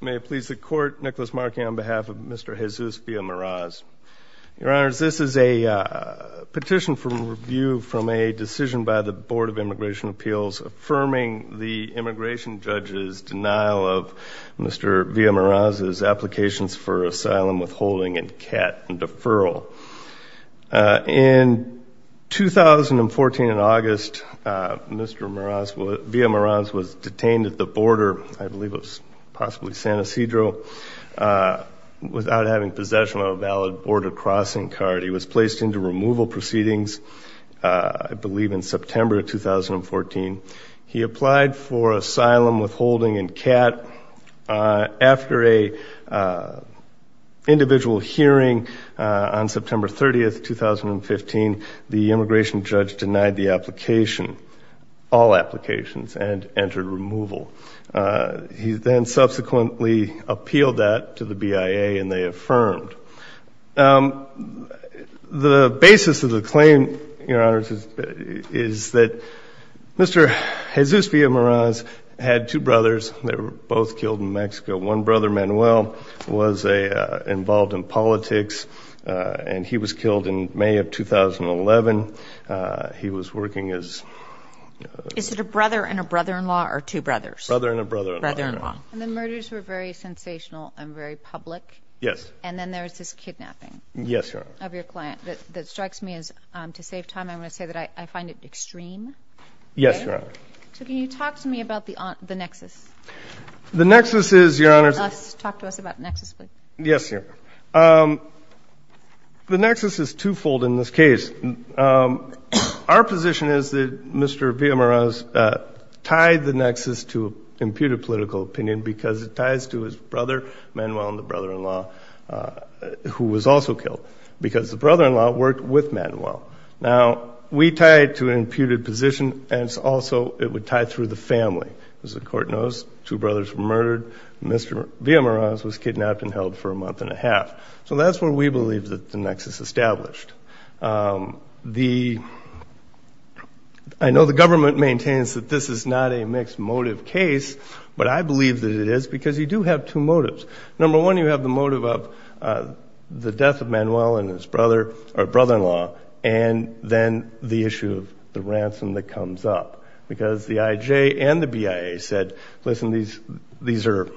May it please the court, Nicholas Markey on behalf of Mr. Jesus Villa-Meraz, your honors, this is a petition for review from a decision by the Board of Immigration Appeals affirming the immigration judge's denial of Mr. Villa- Meraz's applications for asylum withholding and CAT and deferral. In 2014 in August, Mr. Villa-Meraz was detained at the border, I believe it was possibly San Ysidro, without having possession of a valid border crossing card. He was placed into removal proceedings, I believe in September 2014. He applied for asylum withholding and CAT. After a individual hearing on the application, all applications, and entered removal. He then subsequently appealed that to the BIA and they affirmed. The basis of the claim, your honors, is that Mr. Jesus Villa-Meraz had two brothers. They were both killed in Mexico. One brother, Manuel, was involved in politics and he was killed in May of 2011. He was working as... Is it a brother and a brother-in-law or two brothers? Brother and a brother-in-law. And the murders were very sensational and very public? Yes. And then there's this kidnapping? Yes, your honor. Of your client. That strikes me as, to save time, I'm going to say that I find it extreme. Yes, your honor. So can you talk to me about the nexus? The nexus is, your honors... Talk to us about nexus, please. Yes, your honor. The nexus is twofold in this case. Our position is that Mr. Villa-Meraz tied the nexus to imputed political opinion because it ties to his brother, Manuel, and the brother-in-law, who was also killed. Because the brother-in-law worked with Manuel. Now, we tied to an imputed position and it's also, it would tie through the family. As the court knows, two brothers were murdered. Mr. Villa-Meraz was kidnapped and held for a month and a half. So that's where we believe that the nexus established. The... I know the government maintains that this is not a mixed motive case, but I believe that it is because you do have two motives. Number one, you have the motive of the death of Manuel and his brother, or brother-in-law, and then the issue of the These are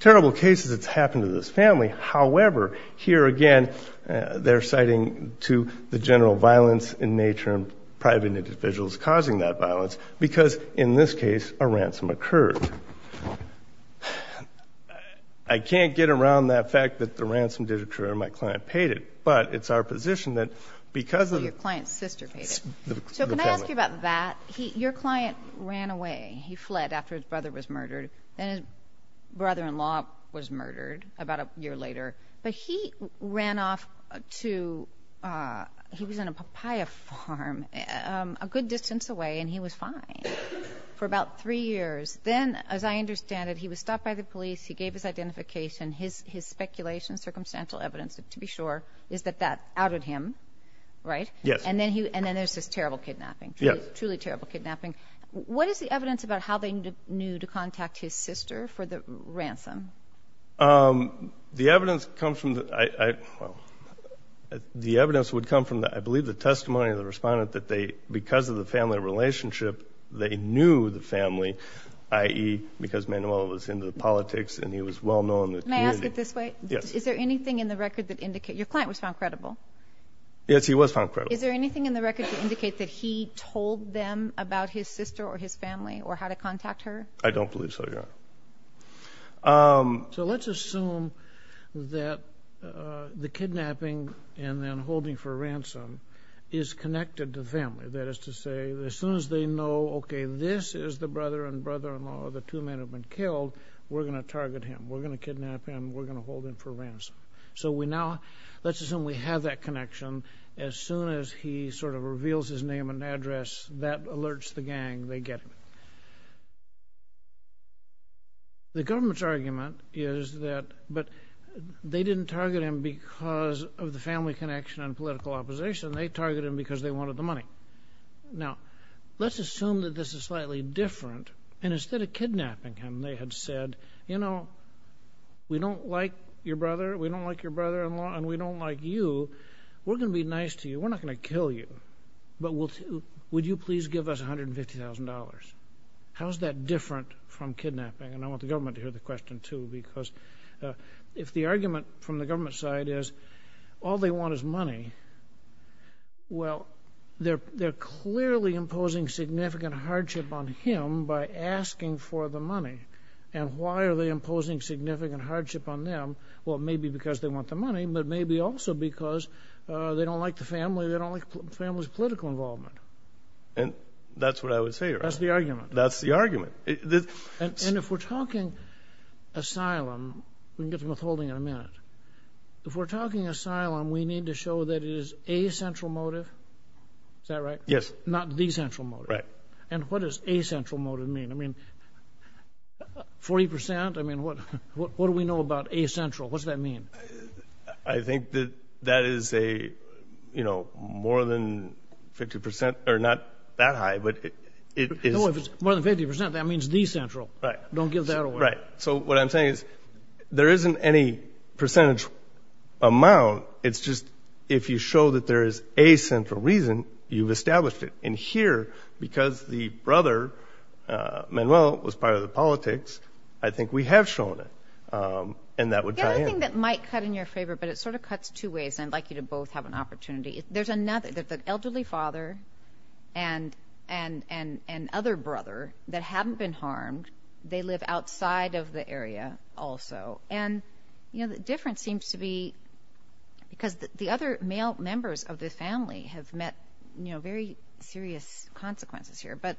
terrible cases that's happened to this family. However, here again, they're citing to the general violence in nature and private individuals causing that violence because, in this case, a ransom occurred. I can't get around that fact that the ransom did occur and my client paid it, but it's our position that because of... Your client's sister paid it. So can I ask you about that? Your client ran away. He fled after his brother was murdered. Then his brother-in-law was murdered about a year later, but he ran off to... He was in a papaya farm a good distance away and he was fine for about three years. Then, as I understand it, he was stopped by the police. He gave his identification. His speculation, circumstantial evidence, to be sure, is that that outed him, right? Yes. And then there's this terrible kidnapping. Yes. Truly terrible kidnapping. What is the evidence about how they knew to contact his sister for the ransom? The evidence comes from... The evidence would come from, I believe, the testimony of the respondent that they, because of the family relationship, they knew the family, i.e. because Manuel was into the politics and he was well-known. Can I ask it this way? Yes. Is there anything in the record that indicates... Your client was found credible? Yes, he was found credible. Is there anything in the record to indicate that he told them about his sister or his family or how to contact her? I don't believe so, Your Honor. So let's assume that the kidnapping and then holding for ransom is connected to family. That is to say, as soon as they know, okay, this is the brother and brother-in-law of the two men who have been killed, we're gonna target him. We're gonna kidnap him. We're gonna hold him for ransom. So we now... They have that connection. As soon as he sort of reveals his name and address, that alerts the gang. They get him. The government's argument is that... But they didn't target him because of the family connection and political opposition. They targeted him because they wanted the money. Now, let's assume that this is slightly different and instead of kidnapping him, they had said, you know, we don't like your brother, we don't like your brother-in-law, and we don't like you. We're gonna be nice to you. We're not gonna kill you. But would you please give us $150,000? How's that different from kidnapping? And I want the government to hear the question too because if the argument from the government side is all they want is money, well, they're clearly imposing significant hardship on him by asking for the money. And why are they imposing significant hardship on them? Well, maybe because they want the money, but maybe also because they don't like the family, they don't like the family's political involvement. And that's what I would say, right? That's the argument. That's the argument. And if we're talking asylum, we can get to withholding in a minute. If we're talking asylum, we need to show that it is a central motive. Is that right? Yes. Not the central motive. Right. And what does a central motive mean? I mean, 40%? I mean, what do we know about a central? What does that mean? I think that that is a, you know, more than 50% or not that high, but it is. No, if it's more than 50%, that means the central. Right. Don't get that away. Right. So what I'm saying is there isn't any percentage amount. It's just if you show that there is a central reason, you've established it. And here, because the brother, Manuel, was part of the politics, I think we have shown it. And that would tie in. The other thing that might cut in your favor, but it sort of cuts two ways, and I'd like you to both have an opportunity. There's another, the elderly father and other brother that haven't been harmed, they live outside of the area also. And, you know, the difference seems to be because the other male members of the family have met, you know, very serious consequences here. But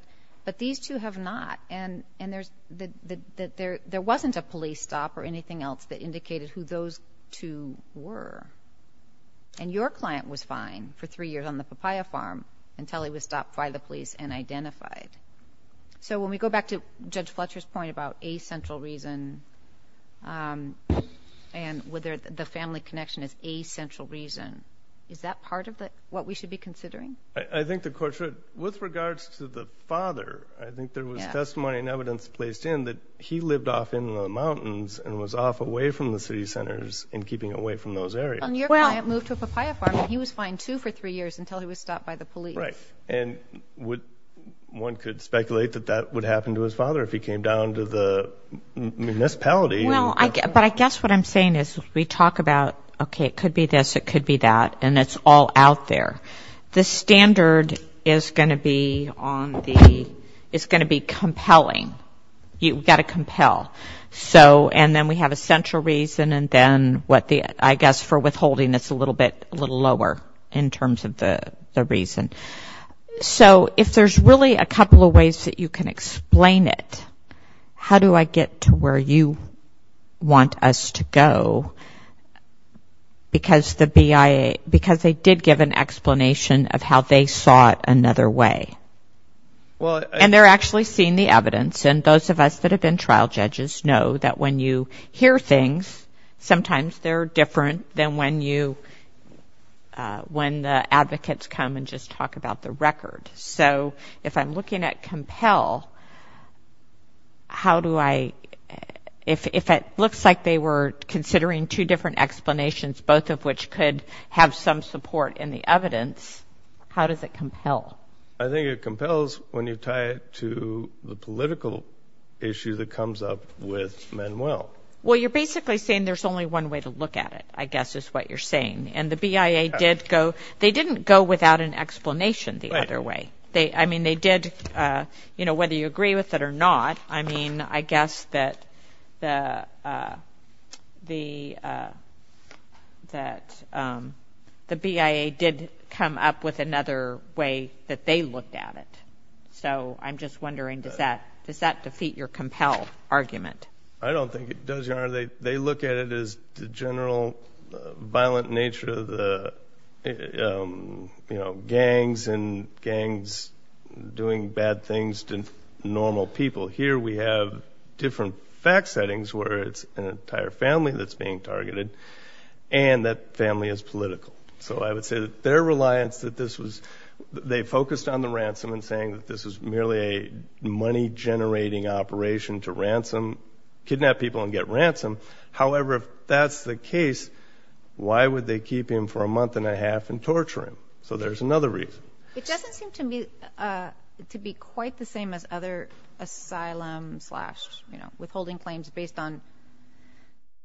these two have not. And there wasn't a police stop or anything else that indicated who those two were. And your client was fine for three years on the papaya farm until he was stopped by the police and identified. So when we go back to Judge Fletcher's point about a central reason and whether the family connection is a central reason, is that part of what we should be considering? I think the court should, with regards to the father, I think there was testimony and evidence placed in that he lived off in the mountains and was off away from the city centers and keeping away from those areas. And your client moved to a papaya farm and he was fine, too, for three years until he was stopped by the police. Right. And would, one could speculate that that would happen to his father if he came down to the municipality. Well, but I guess what I'm saying is we talk about, okay, it could be this, it could be that, and it's all out there. The standard is going to be on the, it's going to be compelling. You've got to compel. So, and then we have a central reason and then what the, I guess for withholding it's a little bit, a little lower in terms of the reason. So if there's really a couple of ways that you can explain it, how do I get to where you want us to go? Because the BIA, because they did give an explanation of how they saw it another way. And they're actually seeing the evidence. And those of us that have been trial judges know that when you hear things, sometimes they're different than when you, when the advocates come and just talk about the record. So if I'm looking at compel, how do I, if it looks like they were considering two different explanations, both of which could have some support in the evidence, how does it compel? I think it compels when you tie it to the political issue that comes up with Manuel. Well, you're basically saying there's only one way to look at it, I guess is what you're saying. And the BIA did go, they didn't go without an explanation the other way. They, I mean, they did, you know, whether you agree with it or not, I mean, I guess that the BIA did come up with another way that they looked at it. So I'm just wondering, does that defeat your compel argument? I don't think it does, Your Honor. They look at it as the general violent nature of the, you know, gangs and gangs doing bad things to normal people. Here we have different fact settings where it's an entire family that's being targeted and that family is political. So I would say that their reliance that this was, they focused on the ransom and saying that this was merely a money generating operation to ransom, kidnap people and get ransom. However, if that's the case, why would they keep him for a month and a half and torture him? So there's another reason. It doesn't seem to me to be quite the same as other asylum slash, you know, withholding claims based on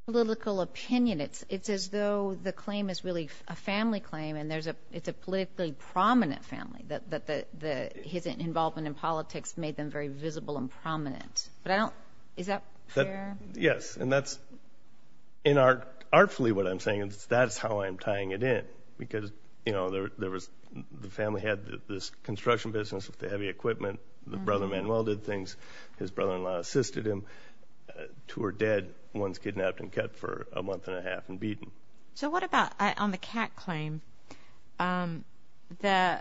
political opinion. It's as though the claim is really a family claim and there's a, it's a politically prominent family that his involvement in politics made them very visible and prominent. But I don't, is that fair? Yes. And that's in art, artfully what I'm saying is that's how I'm tying it in because, you know, there, there was, the family had this construction business with the heavy equipment, the brother Manuel did things, his brother-in-law assisted him, two are dead, one's kidnapped and kept for a month and a half and beaten. So what about on the cat claim? The,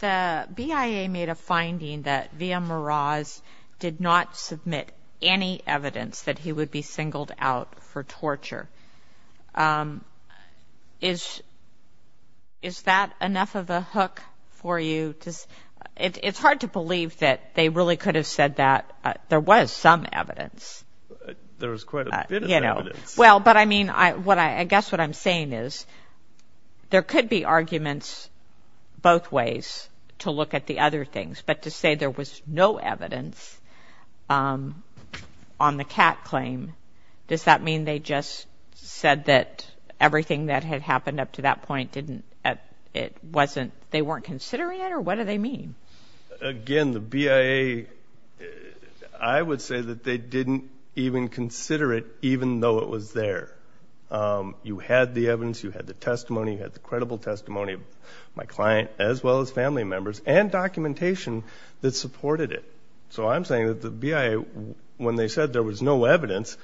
the BIA made a finding that Villamaraz did not submit any evidence that he would be singled out for torture. Is, is that enough of a hook for you? Does, it's hard to believe that they really could have said that there was some evidence. There was quite a bit of evidence. Well, but I mean, I, what I, I guess what I'm saying is there could be arguments both ways to look at the other things, but to say there was no evidence on the cat claim, does that mean they just said that everything that had happened up to that point didn't, it wasn't, they weren't considering it or what do they mean? Again, the BIA, I would say that they didn't even consider it even though it was there. You had the evidence, you had the testimony, you had the credible testimony of my client, as well as family members and documentation that supported it. So I'm saying that the BIA, when they said there was no evidence,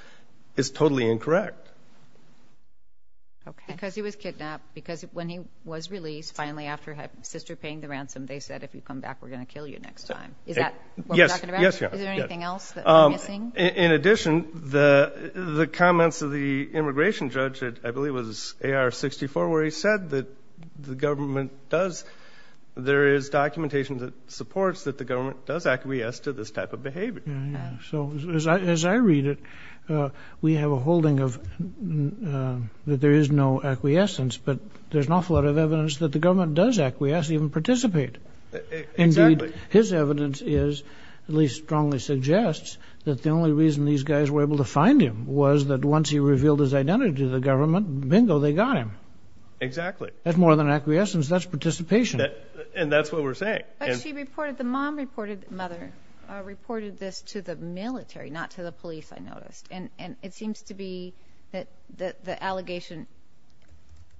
is totally incorrect. Okay, because he was kidnapped because when he was released finally after his sister paying the ransom, they said, if you come back, we're going to kill you next time. Is that what we're talking about? Is there anything else that we're missing? In addition, the, the comments of the immigration judge at, I believe it was AR-64 where he said that the government does, there is documentation that supports that the government does acquiesce to this type of behavior. So as I read it, we have a holding of, that there is no acquiescence, but there's an awful lot of evidence that the government does acquiesce, even participate. Indeed, his evidence is, at least strongly suggests, that the only reason these guys were able to find him was that once he revealed his identity to the government, bingo, they got him. Exactly. That's more than acquiescence, that's participation. And that's what we're saying. But she reported, the mom reported, mother, reported this to the military, not to the police, I noticed. And, and it seems to be that, that the allegation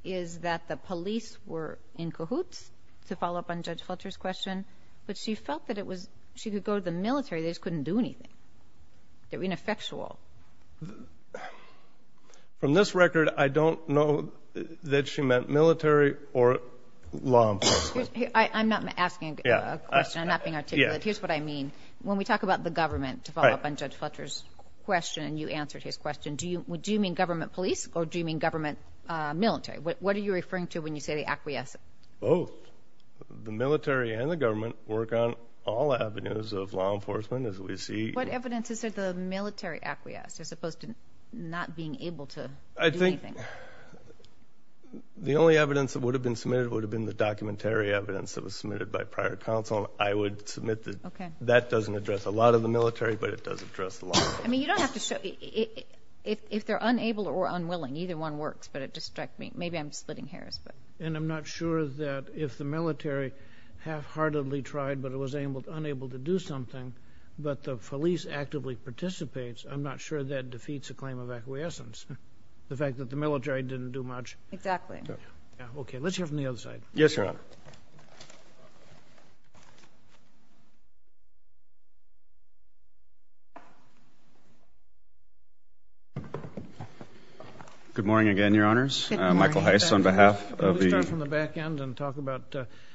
is that the police were in cahoots, to follow up on Judge Fletcher's question, but she felt that it was, she could go to the military, they just couldn't do anything. They were ineffectual. From this record, I don't know that she meant military or law enforcement. Excuse me, I'm not asking a question, I'm not being articulate, here's what I mean. When we talk about the government, to follow up on Judge Fletcher's question, and you answered his question, do you, do you mean government police, or do you mean government military? What are you referring to when you say the acquiescent? Both. The military and the government work on all avenues of law enforcement, as we see. What evidence is there of the military acquiescence? As opposed to not being able to do anything. I think, the only evidence that would have been submitted, would have been the documentary evidence that was submitted by prior counsel. I would submit that, that doesn't address a lot of the military, but it does address the law. I mean, you don't have to show, if they're unable or unwilling, either one works, but it distracts me. Maybe I'm splitting hairs, but. And I'm not sure that if the military half-heartedly tried, but it was unable to do something, but the police actively participates, I'm not sure that defeats a claim of acquiescence. The fact that the military didn't do much. Exactly. Okay. Let's hear from the other side. Yes, Your Honor. Good morning again, Your Honors. Michael Heiss on behalf of the. Let's start from the back end and talk about,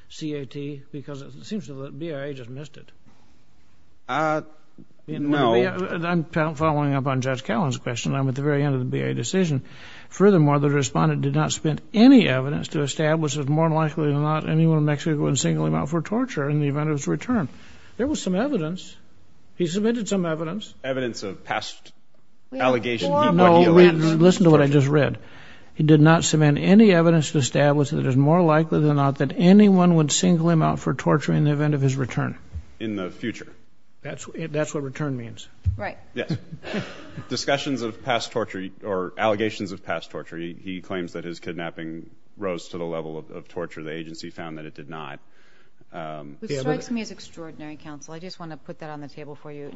C.A.T. because it seems to me that BIA just missed it. Uh, no. I'm following up on Judge Callan's question. I'm at the very end of the BIA decision. Furthermore, the respondent did not submit any evidence to establish that more likely than not, anyone in Mexico would single him out for torture in the event of his return. There was some evidence. He submitted some evidence. Evidence of past allegations. Listen to what I just read. He did not submit any evidence to establish that it is more likely than not, that anyone would single him out for torture in the event of his return. In the future. That's what return means. Right. Yes. Discussions of past torture or allegations of past torture. He claims that his kidnapping rose to the level of torture. The agency found that it did not. Which strikes me as extraordinary counsel. I just want to put that on the table for you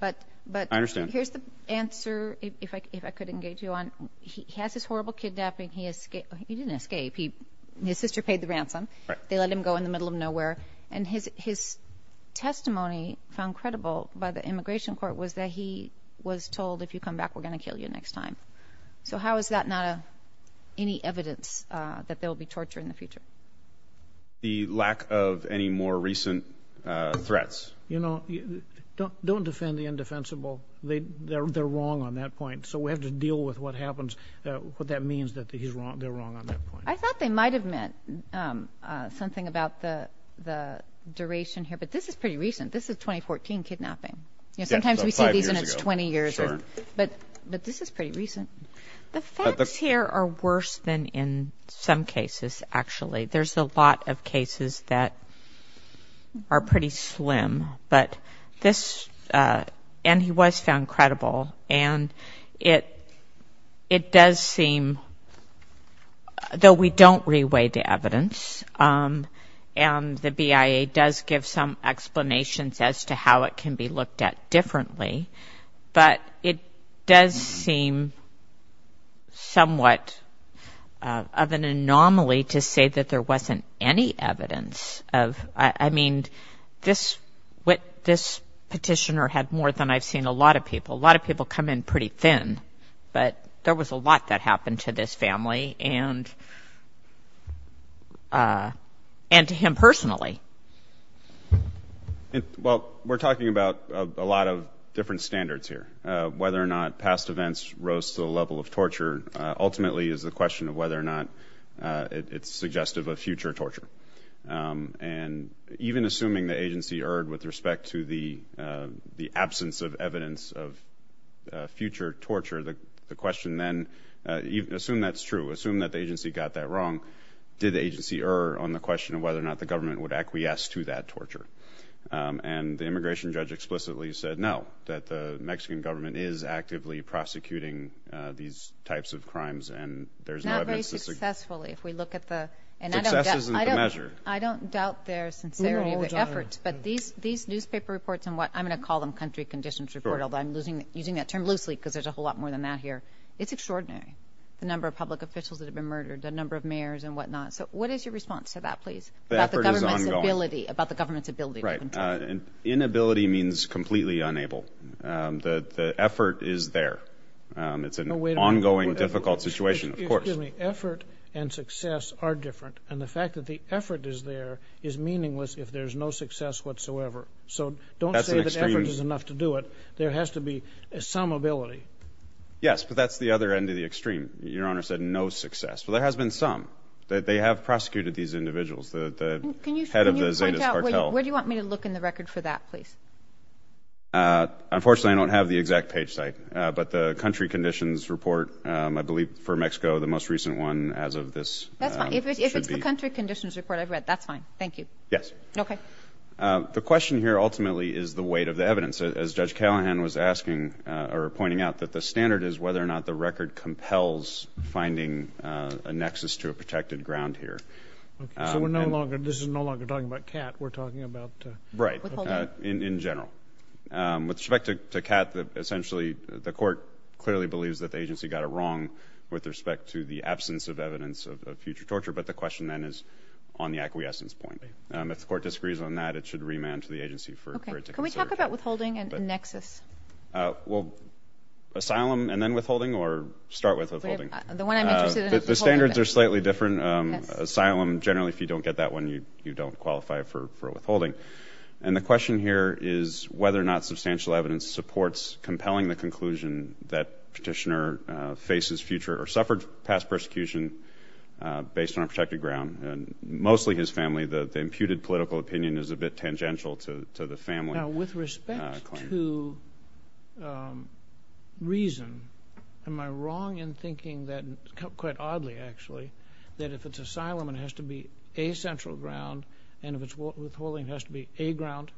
But. But. I understand. Here's the answer, if I could engage you on. He has this horrible kidnapping. He didn't escape. His sister paid the ransom. They let him go in the middle of nowhere. And his testimony found credible by the immigration court was that he was told, if you come back, we're going to kill you next time. So how is that not any evidence that there will be torture in the future? The lack of any more recent threats. You know, don't defend the indefensible. They they're wrong on that point. So we have to deal with what happens, what that means that he's wrong. They're wrong on that point. I thought they might have meant something about the the duration here. But this is pretty recent. This is 2014 kidnapping. You know, sometimes we see these in its 20 years. But but this is pretty recent. The facts here are worse than in some cases, actually. There's a lot of cases that are pretty slim. But this and he was found credible. And it it does seem though we don't re-weigh the evidence. And the BIA does give some explanations as to how it can be looked at differently. But it does seem somewhat of an anomaly to say that there wasn't any evidence of I mean, this what this petitioner had more than I've seen a lot of people. A lot of people come in pretty thin. But there was a lot that happened to this family and and to him personally. And well, we're talking about a lot of different standards here. Whether or not past events rose to the level of torture ultimately is the question of whether or not it's suggestive of future torture. And even assuming the agency erred with respect to the the absence of evidence of future torture, the question then assume that's true, assume that the agency got that wrong. Did the agency err on the question of whether or not the government would acquiesce to that torture? And the immigration judge explicitly said no, that the Mexican government is actively prosecuting these types of crimes. And there's not very successfully if we look at the and I don't measure. I don't doubt their sincerity, their efforts. But these these newspaper reports and what I'm going to call them country conditions report, although I'm losing using that term loosely, because there's a whole lot more than that here. It's extraordinary. The number of public officials that have been murdered, the number of mayors and whatnot. So what is your response to that, please? The effort is ongoing. About the government's ability. Right. Inability means completely unable. The effort is there. It's an ongoing difficult situation. Excuse me. Effort and success are different. And the fact that the effort is there is meaningless if there's no success whatsoever. So don't say that effort is enough to do it. There has to be some ability. Yes. But that's the other end of the extreme. Your Honor said no success. But there has been some that they have prosecuted these individuals. The head of the Zetas cartel. Where do you want me to look in the record for that, please? Unfortunately, I don't have the exact page site. But the country conditions report, I believe, for Mexico, the most recent one as of this. If it's the country conditions report I've read, that's fine. Thank you. Yes. The question here ultimately is the weight of the evidence, as Judge Callahan was asking or pointing out, that the standard is whether or not the record compels finding a nexus to a protected ground here. This is no longer talking about CAT. We're talking about... Right. In general. With respect to CAT, essentially, the court clearly believes that the agency got it wrong with respect to the absence of evidence of future torture. But the question then is on the acquiescence point. If the court disagrees on that, it should remand to the agency for it to consider. Can we talk about withholding and nexus? Asylum and then withholding? Or start with withholding? The one I'm interested in is withholding. The standards are slightly different. Asylum, generally, if you don't get that one, you don't qualify for withholding. And the question here is whether or not substantial evidence supports compelling the conclusion that petitioner faces future or suffered past persecution based on a protected ground. Mostly his family. The imputed political opinion is a bit tangential to the family claim. With respect to reason, am I wrong in thinking that, quite oddly, actually, that if it's asylum, it has to be a central ground, and if it's withholding, it has to be a ground?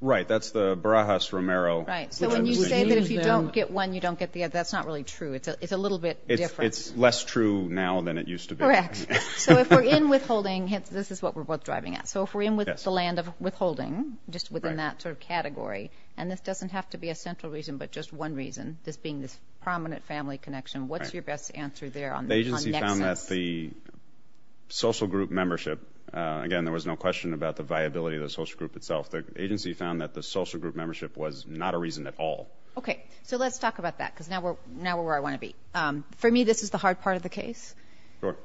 Right. That's the Barajas-Romero... Right. So when you say that if you don't get one, you don't get the other, that's not really true. It's a little bit different. It's less true now than it used to be. Correct. So if we're in withholding, this is what we're both driving at. If we're in with the land of withholding, just within that sort of category, and this doesn't have to be a central reason, but just one reason, this being this prominent family connection, what's your best answer there on the connexions? The agency found that the social group membership, again, there was no question about the viability of the social group itself. The agency found that the social group membership was not a reason at all. Okay. So let's talk about that, because now we're where I want to be. For me, this is the hard part of the case. Sure.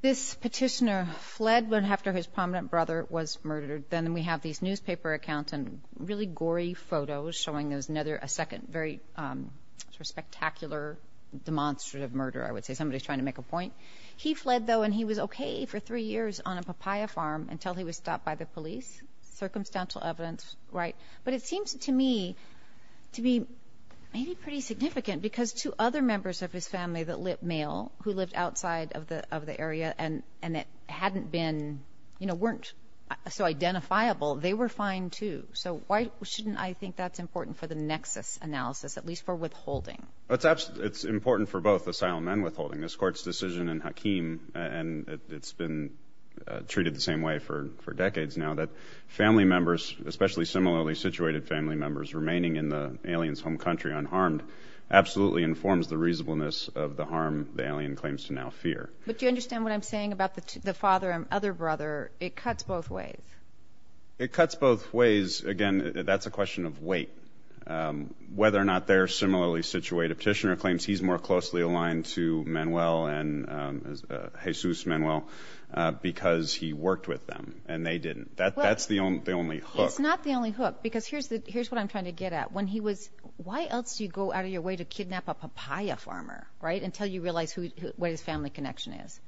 This petitioner fled after his prominent brother was murdered. Then we have these newspaper accounts and really gory photos showing there's another, a second, very spectacular, demonstrative murder, I would say. Somebody's trying to make a point. He fled, though, and he was okay for three years on a papaya farm until he was stopped by the police. Circumstantial evidence. Right. But it seems to me to be maybe pretty significant, because two other members of his and it hadn't been, weren't so identifiable. They were fine, too. So why shouldn't I think that's important for the nexus analysis, at least for withholding? It's important for both asylum and withholding. This court's decision in Hakeem, and it's been treated the same way for decades now, that family members, especially similarly situated family members, remaining in the alien's home country unharmed absolutely informs the reasonableness of the harm the alien claims to now fear. But do you understand what I'm saying about the father and other brother? It cuts both ways. It cuts both ways. Again, that's a question of weight, whether or not they're similarly situated. Petitioner claims he's more closely aligned to Manuel and Jesus Manuel because he worked with them, and they didn't. That's the only hook. It's not the only hook, because here's what I'm trying to get at. When he was, why else do you go out of your way to kidnap a papaya farmer, right, until you realize what his family connection is?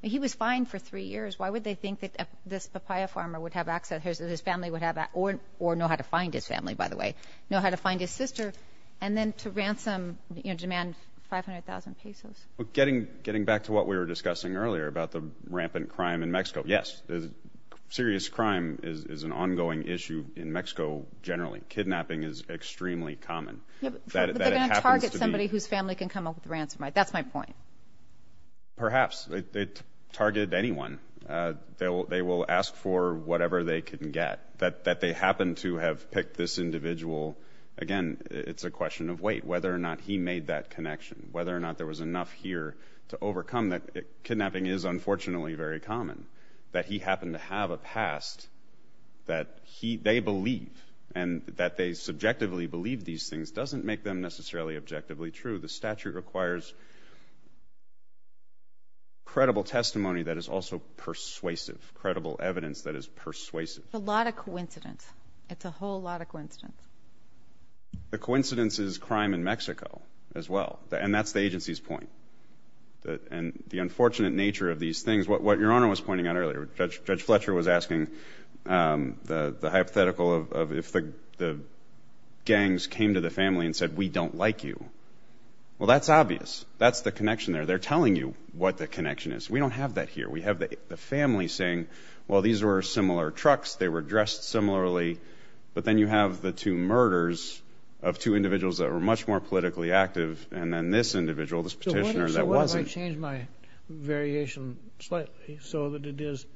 He was fine for three years. Why would they think that this papaya farmer would have access, his family would have access, or know how to find his family, by the way, know how to find his sister, and then to ransom, you know, demand 500,000 pesos? Well, getting back to what we were discussing earlier about the rampant crime in Mexico, yes, serious crime is an ongoing issue in Mexico generally. Kidnapping is extremely common. Yeah, but they're going to target somebody whose family can come up with a ransom, right? That's my point. Perhaps, they target anyone. They will ask for whatever they can get. That they happen to have picked this individual, again, it's a question of weight, whether or not he made that connection, whether or not there was enough here to overcome that. Kidnapping is unfortunately very common. That he happened to have a past that they believe, and that they subjectively believe these things doesn't make them necessarily objectively true. The statute requires credible testimony that is also persuasive, credible evidence that is persuasive. A lot of coincidence. It's a whole lot of coincidence. The coincidence is crime in Mexico as well, and that's the agency's point. And the unfortunate nature of these things, what Your Honor was pointing out earlier, Judge Fletcher was asking the hypothetical of if the gangs came to the family and said, we don't like you. Well, that's obvious. That's the connection there. They're telling you what the connection is. We don't have that here. We have the family saying, well, these were similar trucks. They were dressed similarly. But then you have the two murders of two individuals that were much more politically active, and then this individual, this petitioner that wasn't. So what if I change my variation slightly so that it is,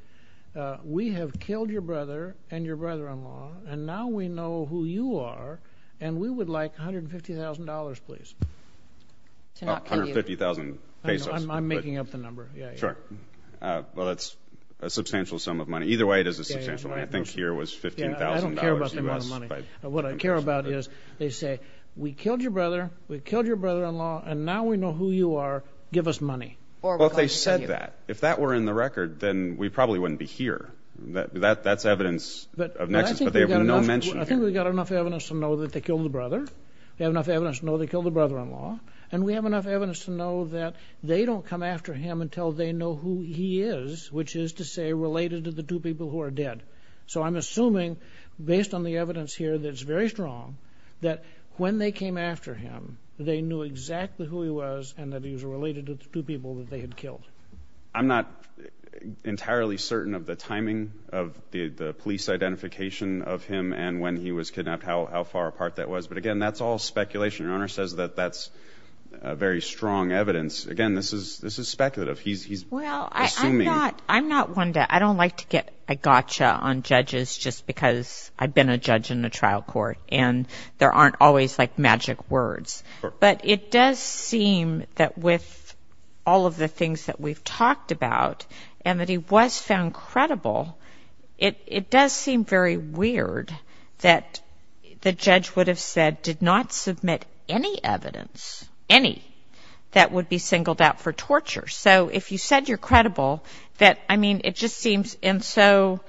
we have killed your brother and your brother-in-law, and now we know who you are, and we would like $150,000, please? Oh, 150,000 pesos. I'm making up the number. Yeah, sure. Well, that's a substantial sum of money. Either way, it is a substantial money. I think here was $15,000. Yeah, I don't care about the amount of money. What I care about is they say, we killed your brother, we killed your brother-in-law, and now we know who you are. Give us money. Well, if they said that, if that were in the record, then we probably wouldn't be here. That's evidence of nexus, but they have no mention here. I think we've got enough evidence to know that they killed the brother. We have enough evidence to know they killed the brother-in-law, and we have enough evidence to know that they don't come after him until they know who he is, which is to say, related to the two people who are dead. So I'm assuming, based on the evidence here that's very strong, that when they came after him, they knew exactly who he was and that he was related to the two people that they had killed. I'm not entirely certain of the timing of the police identification of him and when he was kidnapped, how far apart that was. But again, that's all speculation. Your Honor says that that's very strong evidence. Again, this is speculative. He's assuming— I'm not one to—I don't like to get a gotcha on judges just because I've been a judge in a trial court, and there aren't always, like, magic words. But it does seem that with all of the things that we've talked about and that he was found credible, it does seem very weird that the judge would have said, did not submit any evidence—any—that would be singled out for torture. So if you said you're credible, that, I mean, it just seems—and so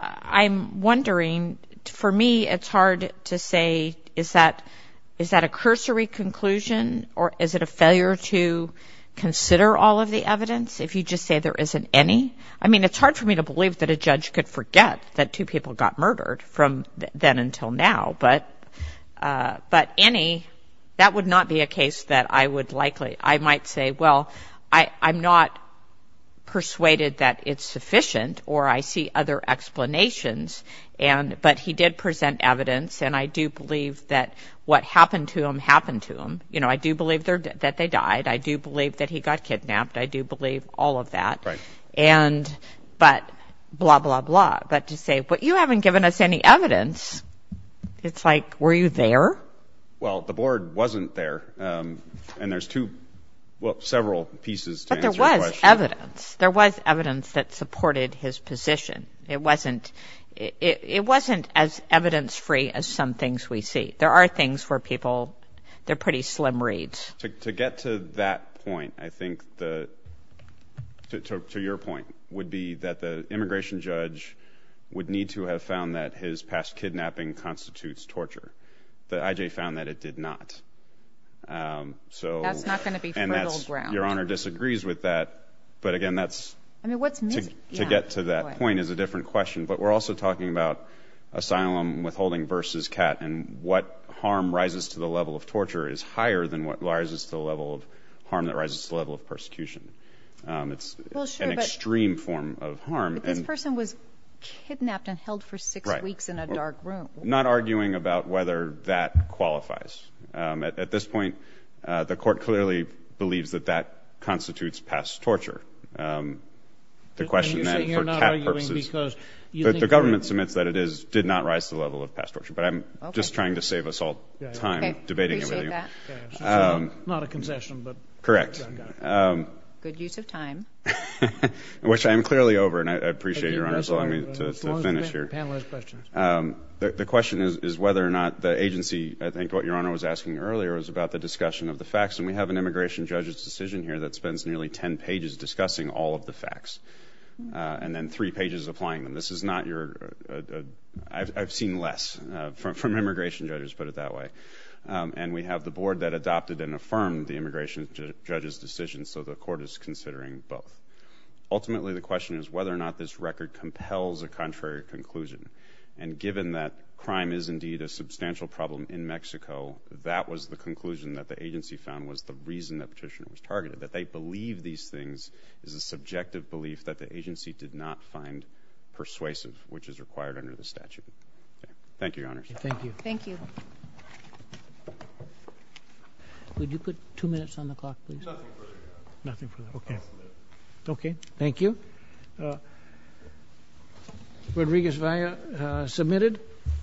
I'm wondering, for me, it's hard to say, is that a cursory conclusion or is it a failure to consider all of the evidence if you just say there isn't any? I mean, it's hard for me to believe that a judge could forget that two people got murdered from then until now, but any—that would not be a case that I would likely—I might say, well, I'm not persuaded that it's sufficient or I see other explanations. And—but he did present evidence, and I do believe that what happened to him happened to him. You know, I do believe that they died. I do believe that he got kidnapped. I do believe all of that. Right. And—but blah, blah, blah. But to say, but you haven't given us any evidence, it's like, were you there? Well, the board wasn't there, and there's two—well, several pieces to answer your question. But there was evidence. There was evidence that supported his position. It wasn't—it wasn't as evidence-free as some things we see. There are things where people—they're pretty slim reads. To get to that point, I think the—to your point would be that the immigration judge would need to have found that his past kidnapping constitutes torture. The IJ found that it did not. So— That's not going to be fertile ground. Your Honor disagrees with that, but again, that's— I mean, what's missing? To get to that point is a different question. But we're also talking about asylum withholding versus CAT. And what harm rises to the level of torture is higher than what rises to the level of harm that rises to the level of persecution. It's an extreme form of harm. But this person was kidnapped and held for six weeks in a dark room. Not arguing about whether that qualifies. At this point, the court clearly believes that that constitutes past torture. And you're saying you're not arguing because you think— The government submits that it is—did not rise to the level of past torture. But I'm just trying to save us all time debating it with you. Okay. Appreciate that. Not a concession, but— Correct. Good use of time. Which I am clearly over, and I appreciate your Honor's allowing me to finish here. The question is whether or not the agency—I think what your Honor was asking earlier was about the discussion of the facts, and we have an immigration judge's decision here that all of the facts. And then three pages applying them. This is not your—I've seen less from immigration judges, put it that way. And we have the board that adopted and affirmed the immigration judge's decision, so the court is considering both. Ultimately, the question is whether or not this record compels a contrary conclusion. And given that crime is indeed a substantial problem in Mexico, that was the conclusion that the agency found was the reason the petitioner was targeted. That they believe these things is a subjective belief that the agency did not find persuasive, which is required under the statute. Thank you, Your Honor. Thank you. Thank you. Would you put two minutes on the clock, please? Nothing further. Nothing further. Okay. Okay. Thank you. Rodriguez-Valla, submitted.